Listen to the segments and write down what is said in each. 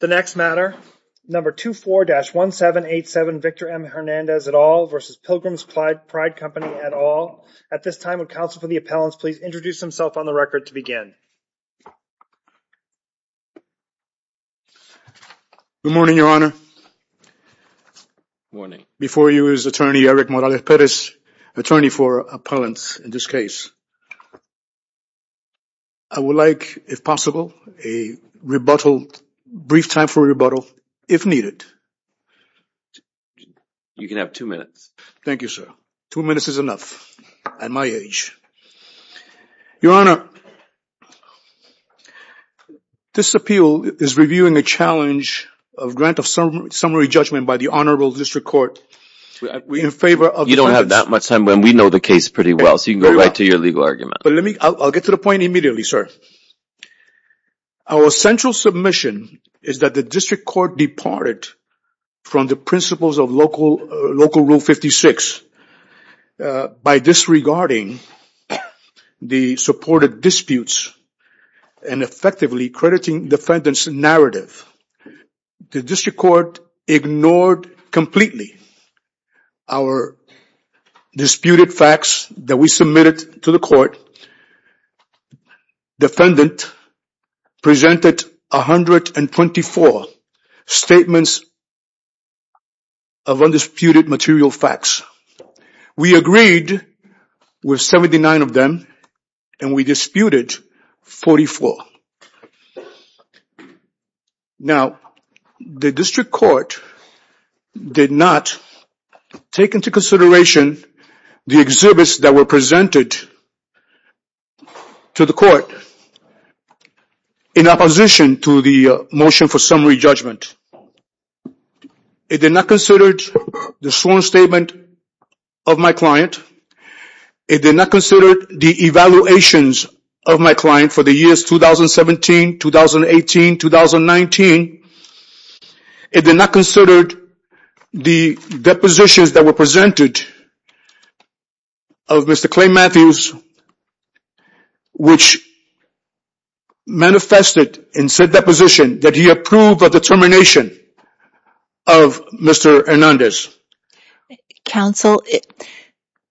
The next matter, number 24-1787 Victor M. Hernandez et al. versus Pilgrim's Pride Company et al. At this time, would counsel for the appellants please introduce themselves on the record to begin. Good morning, your honor. Morning. Before you is attorney Eric Morales Perez, attorney for appellants in this case. I would like, if possible, a rebuttal, a brief time for a rebuttal, if needed. You can have two minutes. Thank you, sir. Two minutes is enough at my age. Your honor, this appeal is reviewing a challenge of grant of summary judgment by the honorable district court in favor of... You don't have that much time, but we know the case pretty well, so you can go right to your legal argument. I'll get to the point immediately, sir. Our central submission is that the district court departed from the principles of local rule 56 by disregarding the supported disputes and effectively crediting defendant's narrative. The district court ignored completely our disputed facts that we submitted to the court. Defendant presented 124 statements of undisputed material facts. We agreed with 79 of them, and we disputed 44. Now, the district court did not take into consideration the exhibits that were presented to the court in opposition to the motion for summary judgment. It did not consider the sworn statement of my client. It did not consider the evaluations of my client for the years 2017, 2018, 2019. It did not consider the depositions that were presented of Mr. Clay Matthews, which manifested in said deposition that he approved of the termination of Mr. Hernandez. Counsel,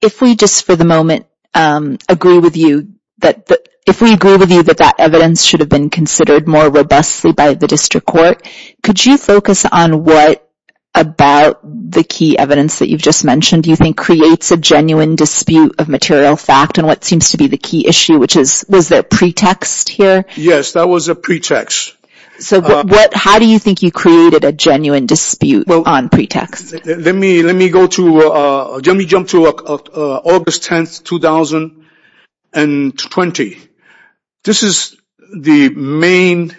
if we just for the moment agree with you that that evidence should have been considered more robustly by the district court, could you focus on what about the key evidence that you've just mentioned do you think creates a genuine dispute of material fact and what seems to be the key issue, which is, was there pretext here? Yes, there was a pretext. So how do you think you created a genuine dispute on pretext? Let me jump to August 10th, 2020. This is the main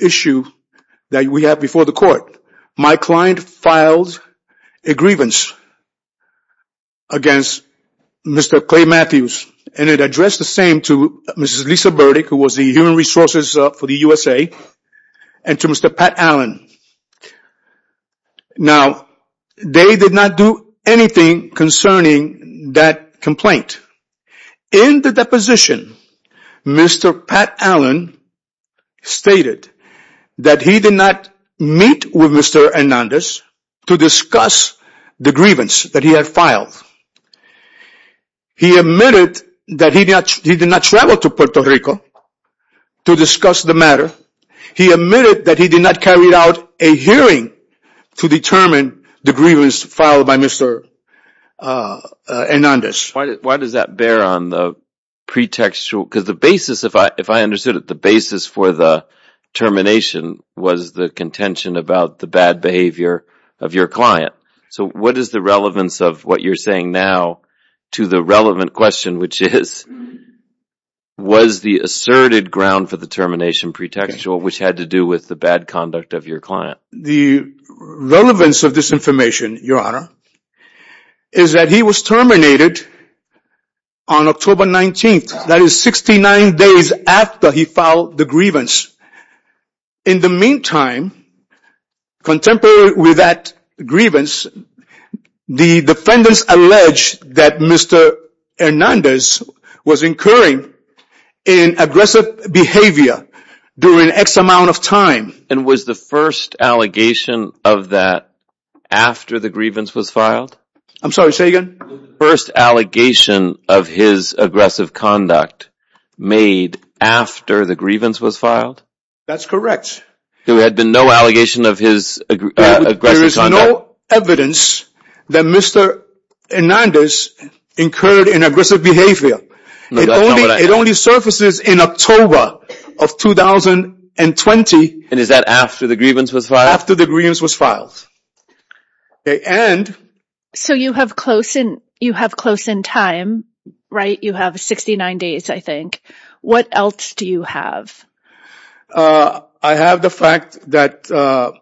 issue that we have before the court. My client filed a grievance against Mr. Clay Matthews, and it addressed the same to Mrs. Lisa Burdick, who was the human resources for the USA, and to Mr. Pat Allen. Now, they did not do anything concerning that complaint. In the deposition, Mr. Pat Allen stated that he did not meet with Mr. Hernandez to discuss the grievance that he had filed. He admitted that he did not travel to Puerto Rico to discuss the matter. He admitted that he did not carry out a hearing to determine the grievance filed by Mr. Hernandez. Why does that bear on the pretextual? Because the basis, if I understood it, the basis for the termination was the contention about the bad behavior of your client. So what is the relevance of what you're saying now to the relevant question, which is, was the asserted ground for the termination pretextual, which had to do with the bad conduct of your client? The relevance of this information, Your Honor, is that he was terminated on October 19th. That is 69 days after he filed the grievance. In the meantime, contemporary with that grievance, the defendants allege that Mr. Hernandez was incurring an aggressive behavior during X amount of time. And was the first allegation of that after the grievance was filed? I'm sorry, say again? Was the first allegation of his aggressive conduct made after the grievance was filed? That's correct. There had been no allegation of his aggressive conduct? There is no evidence that Mr. Hernandez incurred an aggressive behavior. It only surfaces in October of 2020. And is that after the grievance was filed? After the grievance was filed. Okay, and? So you have close in time, right? You have 69 days, I think. What else do you have? I have the fact that the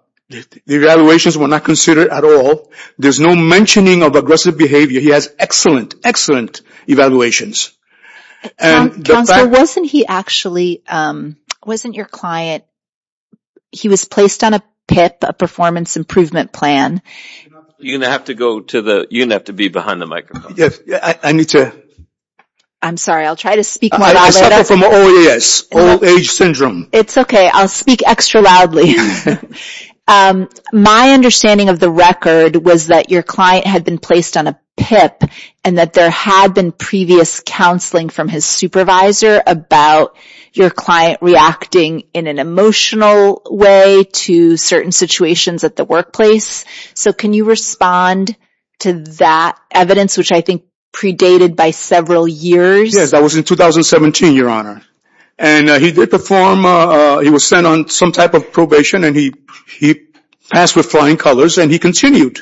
evaluations were not considered at all. There's no mentioning of aggressive behavior. He has excellent, excellent evaluations. Counselor, wasn't he actually, wasn't your client, he was placed on a PIP, a performance improvement plan? You're going to have to go to the, you're going to have to be behind the microphone. Yes, I need to. I'm sorry, I'll try to speak louder. I suffer from OAS, old age syndrome. It's okay, I'll speak extra loudly. My understanding of the record was that your client had been placed on a PIP, and that there had been previous counseling from his supervisor about your client reacting in an emotional way to certain situations at the workplace. So can you respond to that evidence, which I think predated by several years? Yes, that was in 2017, Your Honor. And he did perform, he was sent on some type of probation, and he passed with flying colors, and he continued.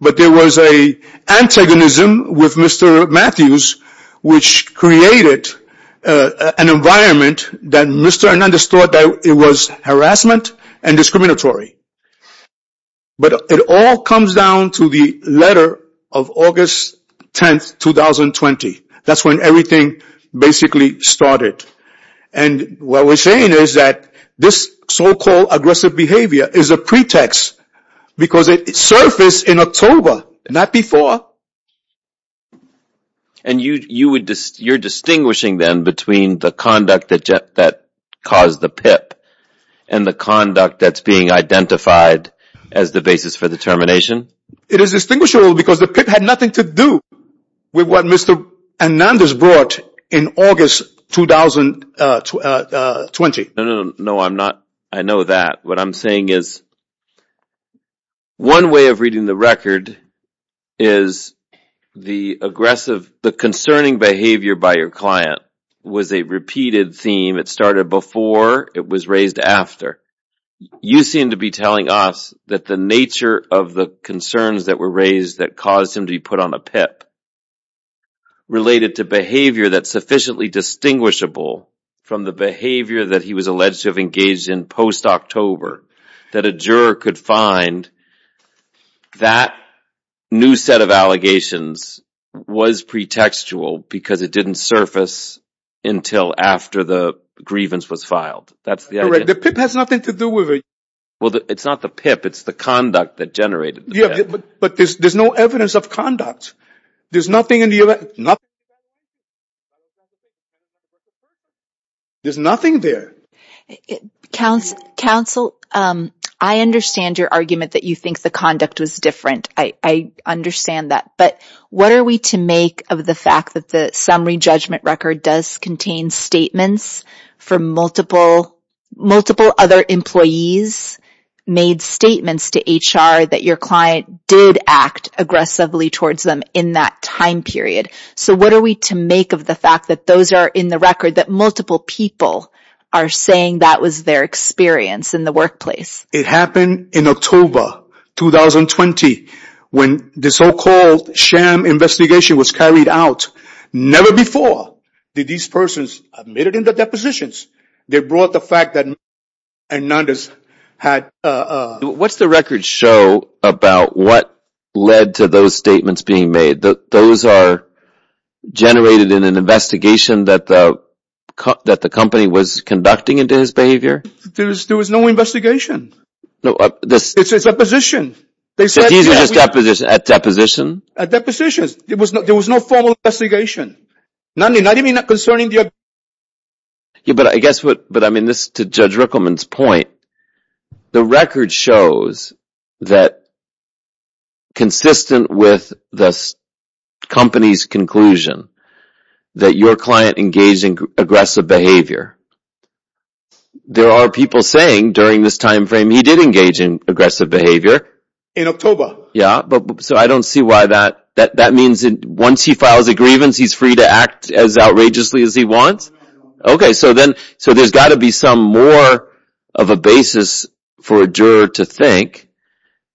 But there was an antagonism with Mr. Matthews, which created an environment that Mr. Hernandez thought that it was harassment and discriminatory. But it all comes down to the letter of August 10, 2020. That's when everything basically started. And what we're saying is that this so-called aggressive behavior is a pretext, because it surfaced in October, not before. And you're distinguishing then between the conduct that caused the PIP, and the conduct that's being identified as the basis for the termination? It is distinguishable because the PIP had nothing to do with what Mr. Hernandez brought in August 2020. No, I'm not. I know that. What I'm saying is, one way of reading the record is the aggressive, the concerning behavior by your client was a repeated theme. It started before, it was raised after. You seem to be telling us that the nature of the concerns that were raised that caused him to be put on a PIP, related to behavior that's sufficiently distinguishable from the behavior that he was alleged to have engaged in post-October, that a juror could find that new set of allegations was pretextual because it didn't surface until after the grievance was filed. Correct. The PIP has nothing to do with it. Well, it's not the PIP, it's the conduct that generated the PIP. Yeah, but there's no evidence of conduct. There's nothing in the evidence. There's nothing there. Counsel, I understand your argument that you think the conduct was different. I understand that. But what are we to make of the fact that the summary judgment record does contain statements from multiple other employees, made statements to HR that your client did act aggressively towards them in that time period. So what are we to make of the fact that those are in the record, that multiple people are saying that was their experience in the workplace? It happened in October, 2020, when the so-called sham investigation was carried out. Never before did these persons admit it in the depositions. They brought the fact that Hernandez had... What's the record show about what led to those statements being made? Those are generated in an investigation that the company was conducting into his behavior? There was no investigation. It's a deposition. At depositions? At depositions. There was no formal investigation. Not even concerning the... Yeah, but I guess what, but I mean this to Judge Rickleman's point, the record shows that consistent with the company's conclusion that your client engaged in aggressive behavior. There are people saying during this time frame he did engage in aggressive behavior. In October. Yeah, but so I don't see why that, that means once he files a grievance he's free to act as outrageously as he wants? Okay, so then, so there's got to be some more of a basis for a juror to think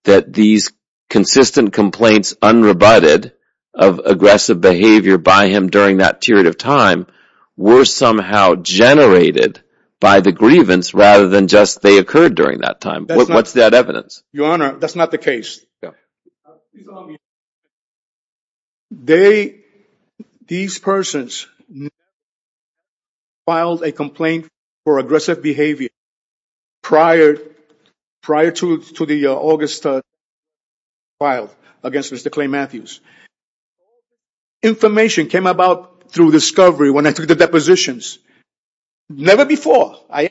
that these consistent complaints unrebutted of aggressive behavior by him during that period of time were somehow generated by the grievance rather than just they occurred during that time. What's that evidence? Your Honor, that's not the case. Yeah. They, these persons filed a complaint for aggressive behavior prior, prior to the August trial against Mr. Clay Matthews. Information came about through discovery when I took the depositions. Never before I...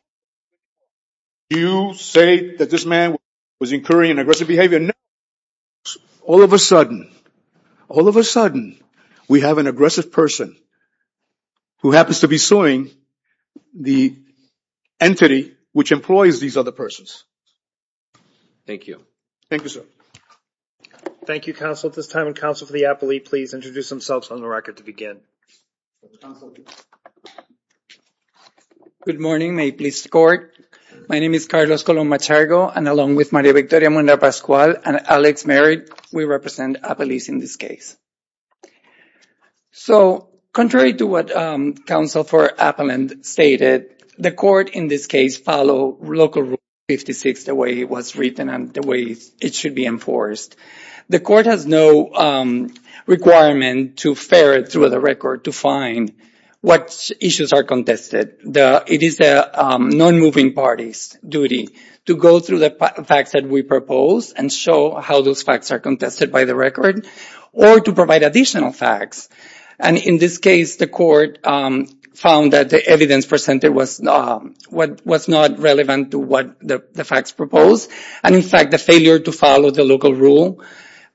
You say that this man was incurring an aggressive behavior. All of a sudden, all of a sudden we have an aggressive person who happens to be suing the entity which employs these other persons. Thank you. Thank you, sir. Thank you, counsel. At this time would counsel for the appellee please introduce themselves on the record to begin. Counsel. Good morning, may it please the court. My name is Carlos Colón Machargo and along with Maria Victoria Munda Pascual and Alex Merritt, we represent appellees in this case. So, contrary to what counsel for appellant stated, the court in this case follow Local Rule 56 the way it was written and the way it should be enforced. The court has no requirement to ferret through the record to find what issues are contested. It is the non-moving party's duty to go through the facts that we propose and show how those facts are contested by the record or to provide additional facts. And in this case, the court found that the evidence presented was not relevant to what the facts proposed. And in fact, the failure to follow the local rule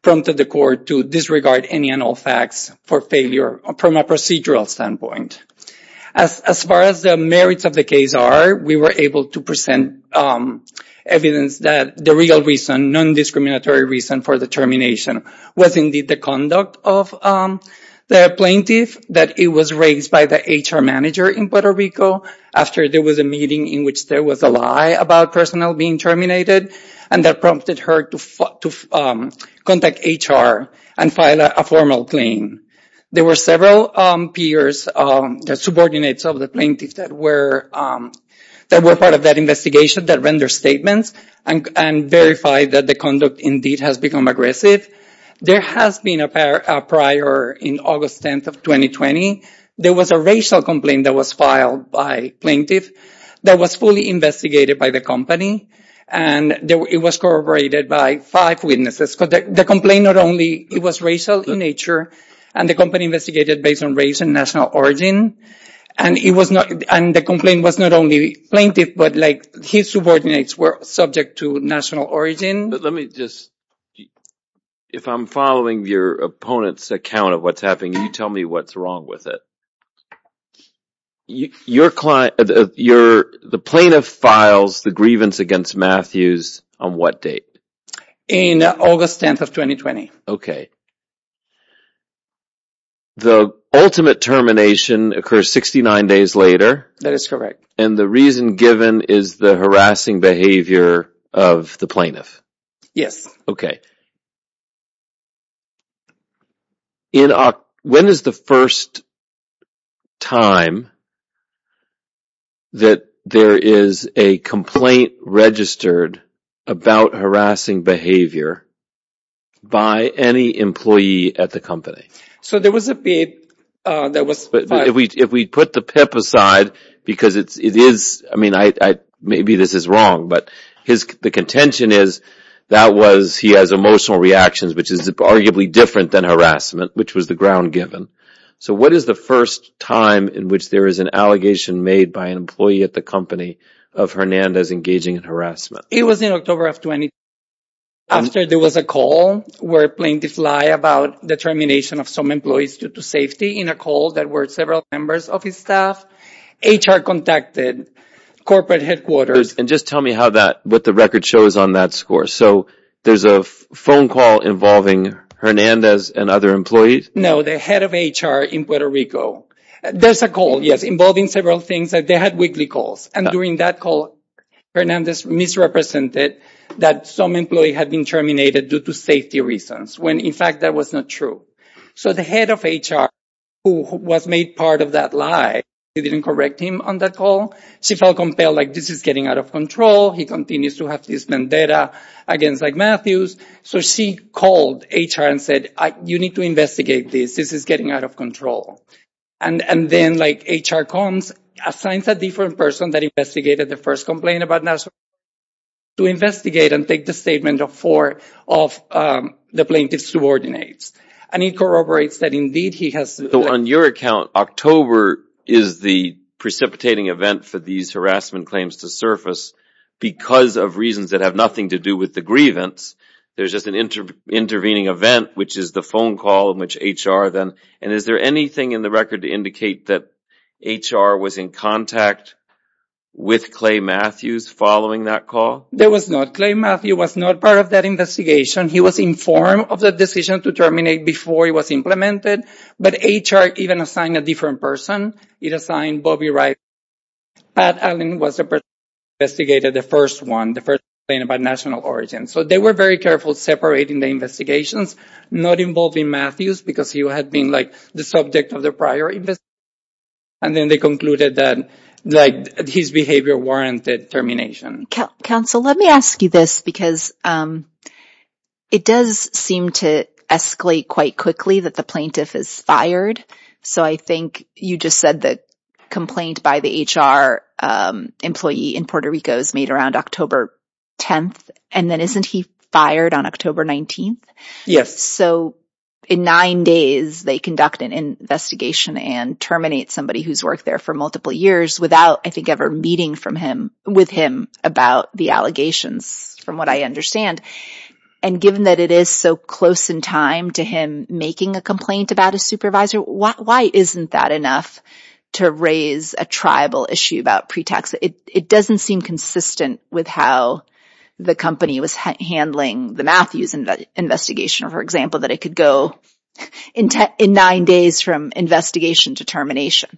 prompted the court to disregard any and all facts for failure from a procedural standpoint. As far as the merits of the case are, we were able to present evidence that the real reason, non-discriminatory reason for the termination was indeed the conduct of the plaintiff. That it was raised by the HR manager in Puerto Rico after there was a meeting in which there was a lie about personnel being terminated and that prompted her to contact HR and file a formal claim. There were several peers, the subordinates of the plaintiff that were part of that investigation that rendered statements and verified that the conduct indeed has become aggressive. There has been a prior in August 10th of 2020, there was a racial complaint that was filed by plaintiff that was fully investigated by the company. And it was corroborated by five witnesses. The complaint was racial in nature and the company investigated based on race and national origin. And the complaint was not only plaintiff, but his subordinates were subject to national origin. Let me just, if I'm following your opponent's account of what's happening, can you tell me what's wrong with it? Your client, the plaintiff files the grievance against Matthews on what date? In August 10th of 2020. Okay. The ultimate termination occurs 69 days later. That is correct. And the reason given is the harassing behavior of the plaintiff. Yes. Okay. When is the first time that there is a complaint registered about harassing behavior by any employee at the company? If we put the PIP aside, because it is, I mean, maybe this is wrong, but the contention is that he has emotional reactions, which is arguably different than harassment, which was the ground given. So what is the first time in which there is an allegation made by an employee at the company of Hernandez engaging in harassment? It was in October of 2020 after there was a call where a plaintiff lied about the termination of some employees due to safety in a call that were several members of his staff. HR contacted corporate headquarters. And just tell me how that, what the record shows on that score. So there's a phone call involving Hernandez and other employees? No, the head of HR in Puerto Rico. There's a call, yes, involving several things. They had weekly calls. And during that call, Hernandez misrepresented that some employee had been terminated due to safety reasons, when in fact that was not true. So the head of HR, who was made part of that lie, didn't correct him on that call. She felt compelled, like, this is getting out of control. He continues to have this vendetta against Matthews. So she called HR and said, you need to investigate this. This is getting out of control. And then, like, HR comes, assigns a different person that investigated the first complaint about Nazareth to investigate and take the statement of four of the plaintiff's subordinates. And he corroborates that indeed he has— So on your account, October is the precipitating event for these harassment claims to surface because of reasons that have nothing to do with the grievance. There's just an intervening event, which is the phone call in which HR then— Did it indicate that HR was in contact with Clay Matthews following that call? There was not. Clay Matthews was not part of that investigation. He was informed of the decision to terminate before it was implemented. But HR even assigned a different person. It assigned Bobby Wright. Pat Allen was the person who investigated the first one, the first complaint about national origin. So they were very careful separating the investigations, not involving Matthews because he had been, like, the subject of the prior investigation. And then they concluded that, like, his behavior warranted termination. Counsel, let me ask you this because it does seem to escalate quite quickly that the plaintiff is fired. So I think you just said the complaint by the HR employee in Puerto Rico is made around October 10th. And then isn't he fired on October 19th? So in nine days, they conduct an investigation and terminate somebody who's worked there for multiple years without, I think, ever meeting with him about the allegations, from what I understand. And given that it is so close in time to him making a complaint about a supervisor, why isn't that enough to raise a tribal issue about pre-tax? It doesn't seem consistent with how the company was handling the Matthews investigation, for example, that it could go in nine days from investigation to termination.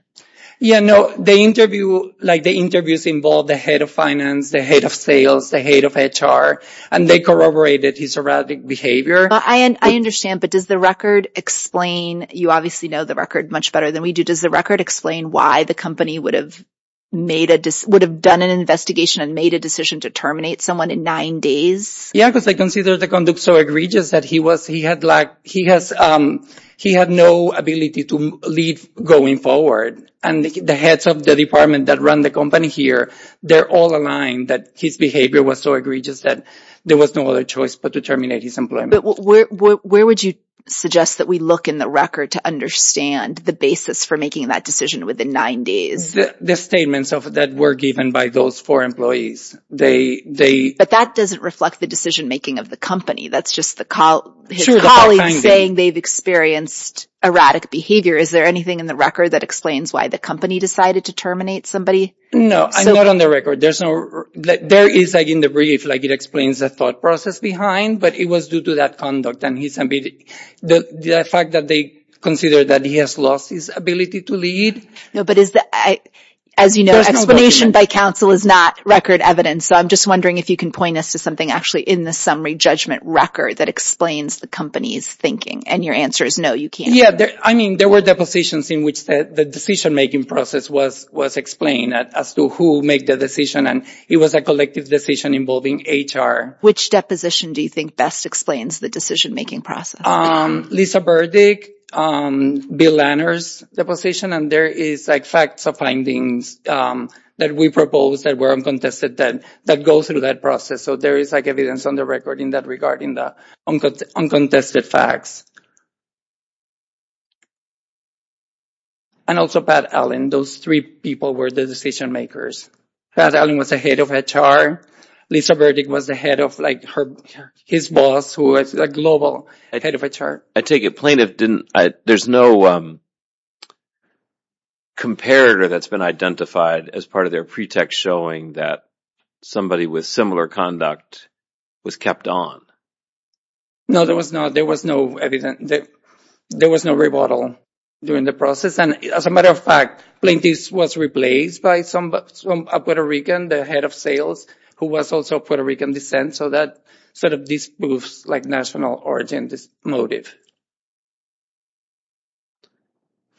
Yeah, no, the interview, like, the interviews involved the head of finance, the head of sales, the head of HR, and they corroborated his erratic behavior. I understand, but does the record explain, you obviously know the record much better than we do, does the record explain why the company would have made a, would have done an investigation and made a decision to terminate someone in nine days? Yeah, because they consider the conduct so egregious that he was, he had like, he has, he had no ability to leave going forward. And the heads of the department that run the company here, they're all aligned that his behavior was so egregious that there was no other choice but to terminate his employment. But where would you suggest that we look in the record to understand the basis for making that decision within nine days? The statements of that were given by those four employees. But that doesn't reflect the decision-making of the company. That's just the, his colleagues saying they've experienced erratic behavior. Is there anything in the record that explains why the company decided to terminate somebody? No, not on the record. There's no, there is like in the brief, like it explains the thought process behind, but it was due to that conduct and his, the fact that they consider that he has lost his ability to leave. No, but is that, as you know, explanation by counsel is not record evidence. So I'm just wondering if you can point us to something actually in the summary judgment record that explains the company's thinking. And your answer is no, you can't. Yeah, I mean, there were depositions in which the decision-making process was explained as to who made the decision. And it was a collective decision involving HR. Which deposition do you think best explains the decision-making process? Lisa Burdick, Bill Lanners' deposition, and there is like facts of findings that we proposed that were uncontested that go through that process. So there is like evidence on the record in that regarding the uncontested facts. And also Pat Allen, those three people were the decision-makers. Pat Allen was the head of HR. Lisa Burdick was the head of like her, his boss who was a global head of HR. I take it plaintiff didn't, there's no comparator that's been identified as part of their pretext showing that somebody with similar conduct was kept on. No, there was not. There was no, there was no rebuttal during the process. And as a matter of fact, plaintiff was replaced by a Puerto Rican, the head of sales, who was also Puerto Rican descent. So that sort of disproves like national origin motive.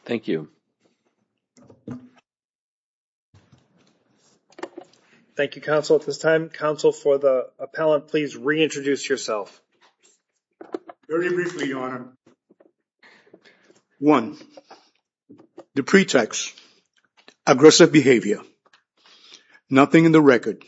Thank you. Thank you, counsel. At this time, counsel for the appellant, please reintroduce yourself. Very briefly, your honor. One, the pretext, aggressive behavior, nothing in the record,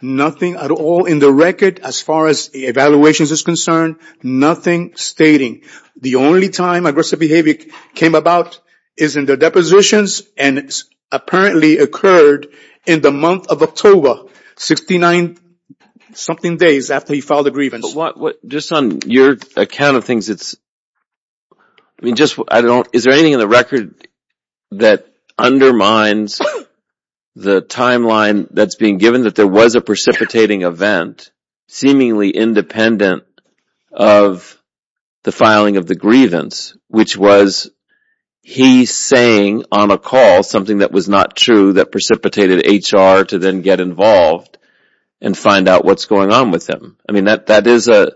nothing at all in the record as far as evaluations is concerned, nothing stating. The only time aggressive behavior came about is in the depositions and apparently occurred in the month of October, 69 something days after he filed the grievance. Just on your account of things, it's, I mean, just, I don't, is there anything in the record that undermines the timeline that's being given that there was a precipitating event seemingly independent of the filing of the grievance, which was he saying on a call something that was not true that precipitated HR to then get involved and find out what's going on with him. I mean, that is a,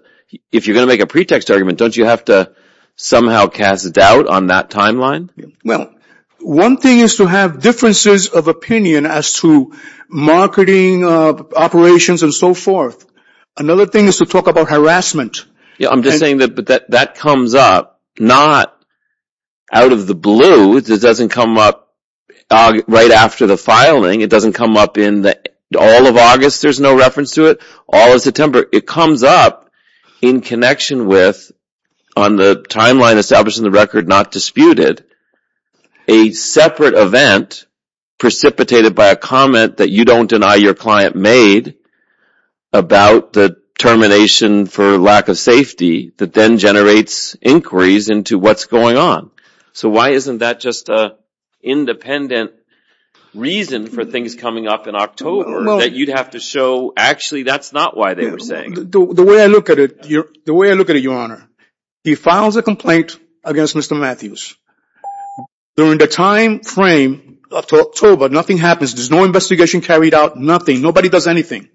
if you're going to make a pretext argument, don't you have to somehow cast doubt on that timeline? Well, one thing is to have differences of opinion as to marketing operations and so forth. Another thing is to talk about harassment. Yeah, I'm just saying that that comes up, not out of the blue, it doesn't come up right after the filing, it doesn't come up in the, all of August there's no reference to it, all of September. It comes up in connection with, on the timeline establishing the record not disputed, a separate event precipitated by a comment that you don't deny your client made about the termination for lack of safety that then generates inquiries into what's going on. So why isn't that just a independent reason for things coming up in October that you'd have to show actually that's not why they were saying? The way I look at it, Your Honor, he files a complaint against Mr. Matthews. During the time frame up to October, nothing happens, there's no investigation carried out, nothing, nobody does anything.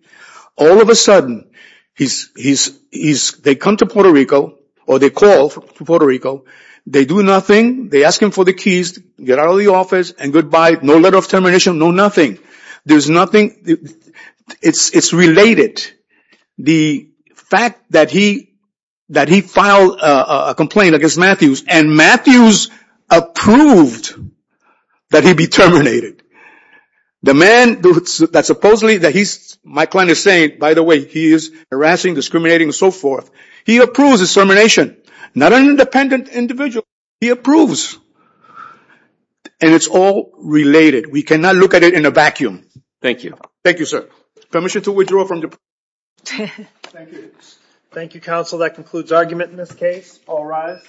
All of a sudden, they come to Puerto Rico or they call Puerto Rico, they do nothing, they ask him for the keys, get out of the office and goodbye, no letter of termination, no nothing. There's nothing, it's related. The fact that he filed a complaint against Matthews and Matthews approved that he be terminated. The man that supposedly that he's, my client is saying, by the way, he is harassing, discriminating and so forth, he approves his termination. Not an independent individual, he approves. And it's all related. We cannot look at it in a vacuum. Thank you. Thank you, sir. Permission to withdraw from the... Thank you, counsel. That concludes argument in this case. All rise.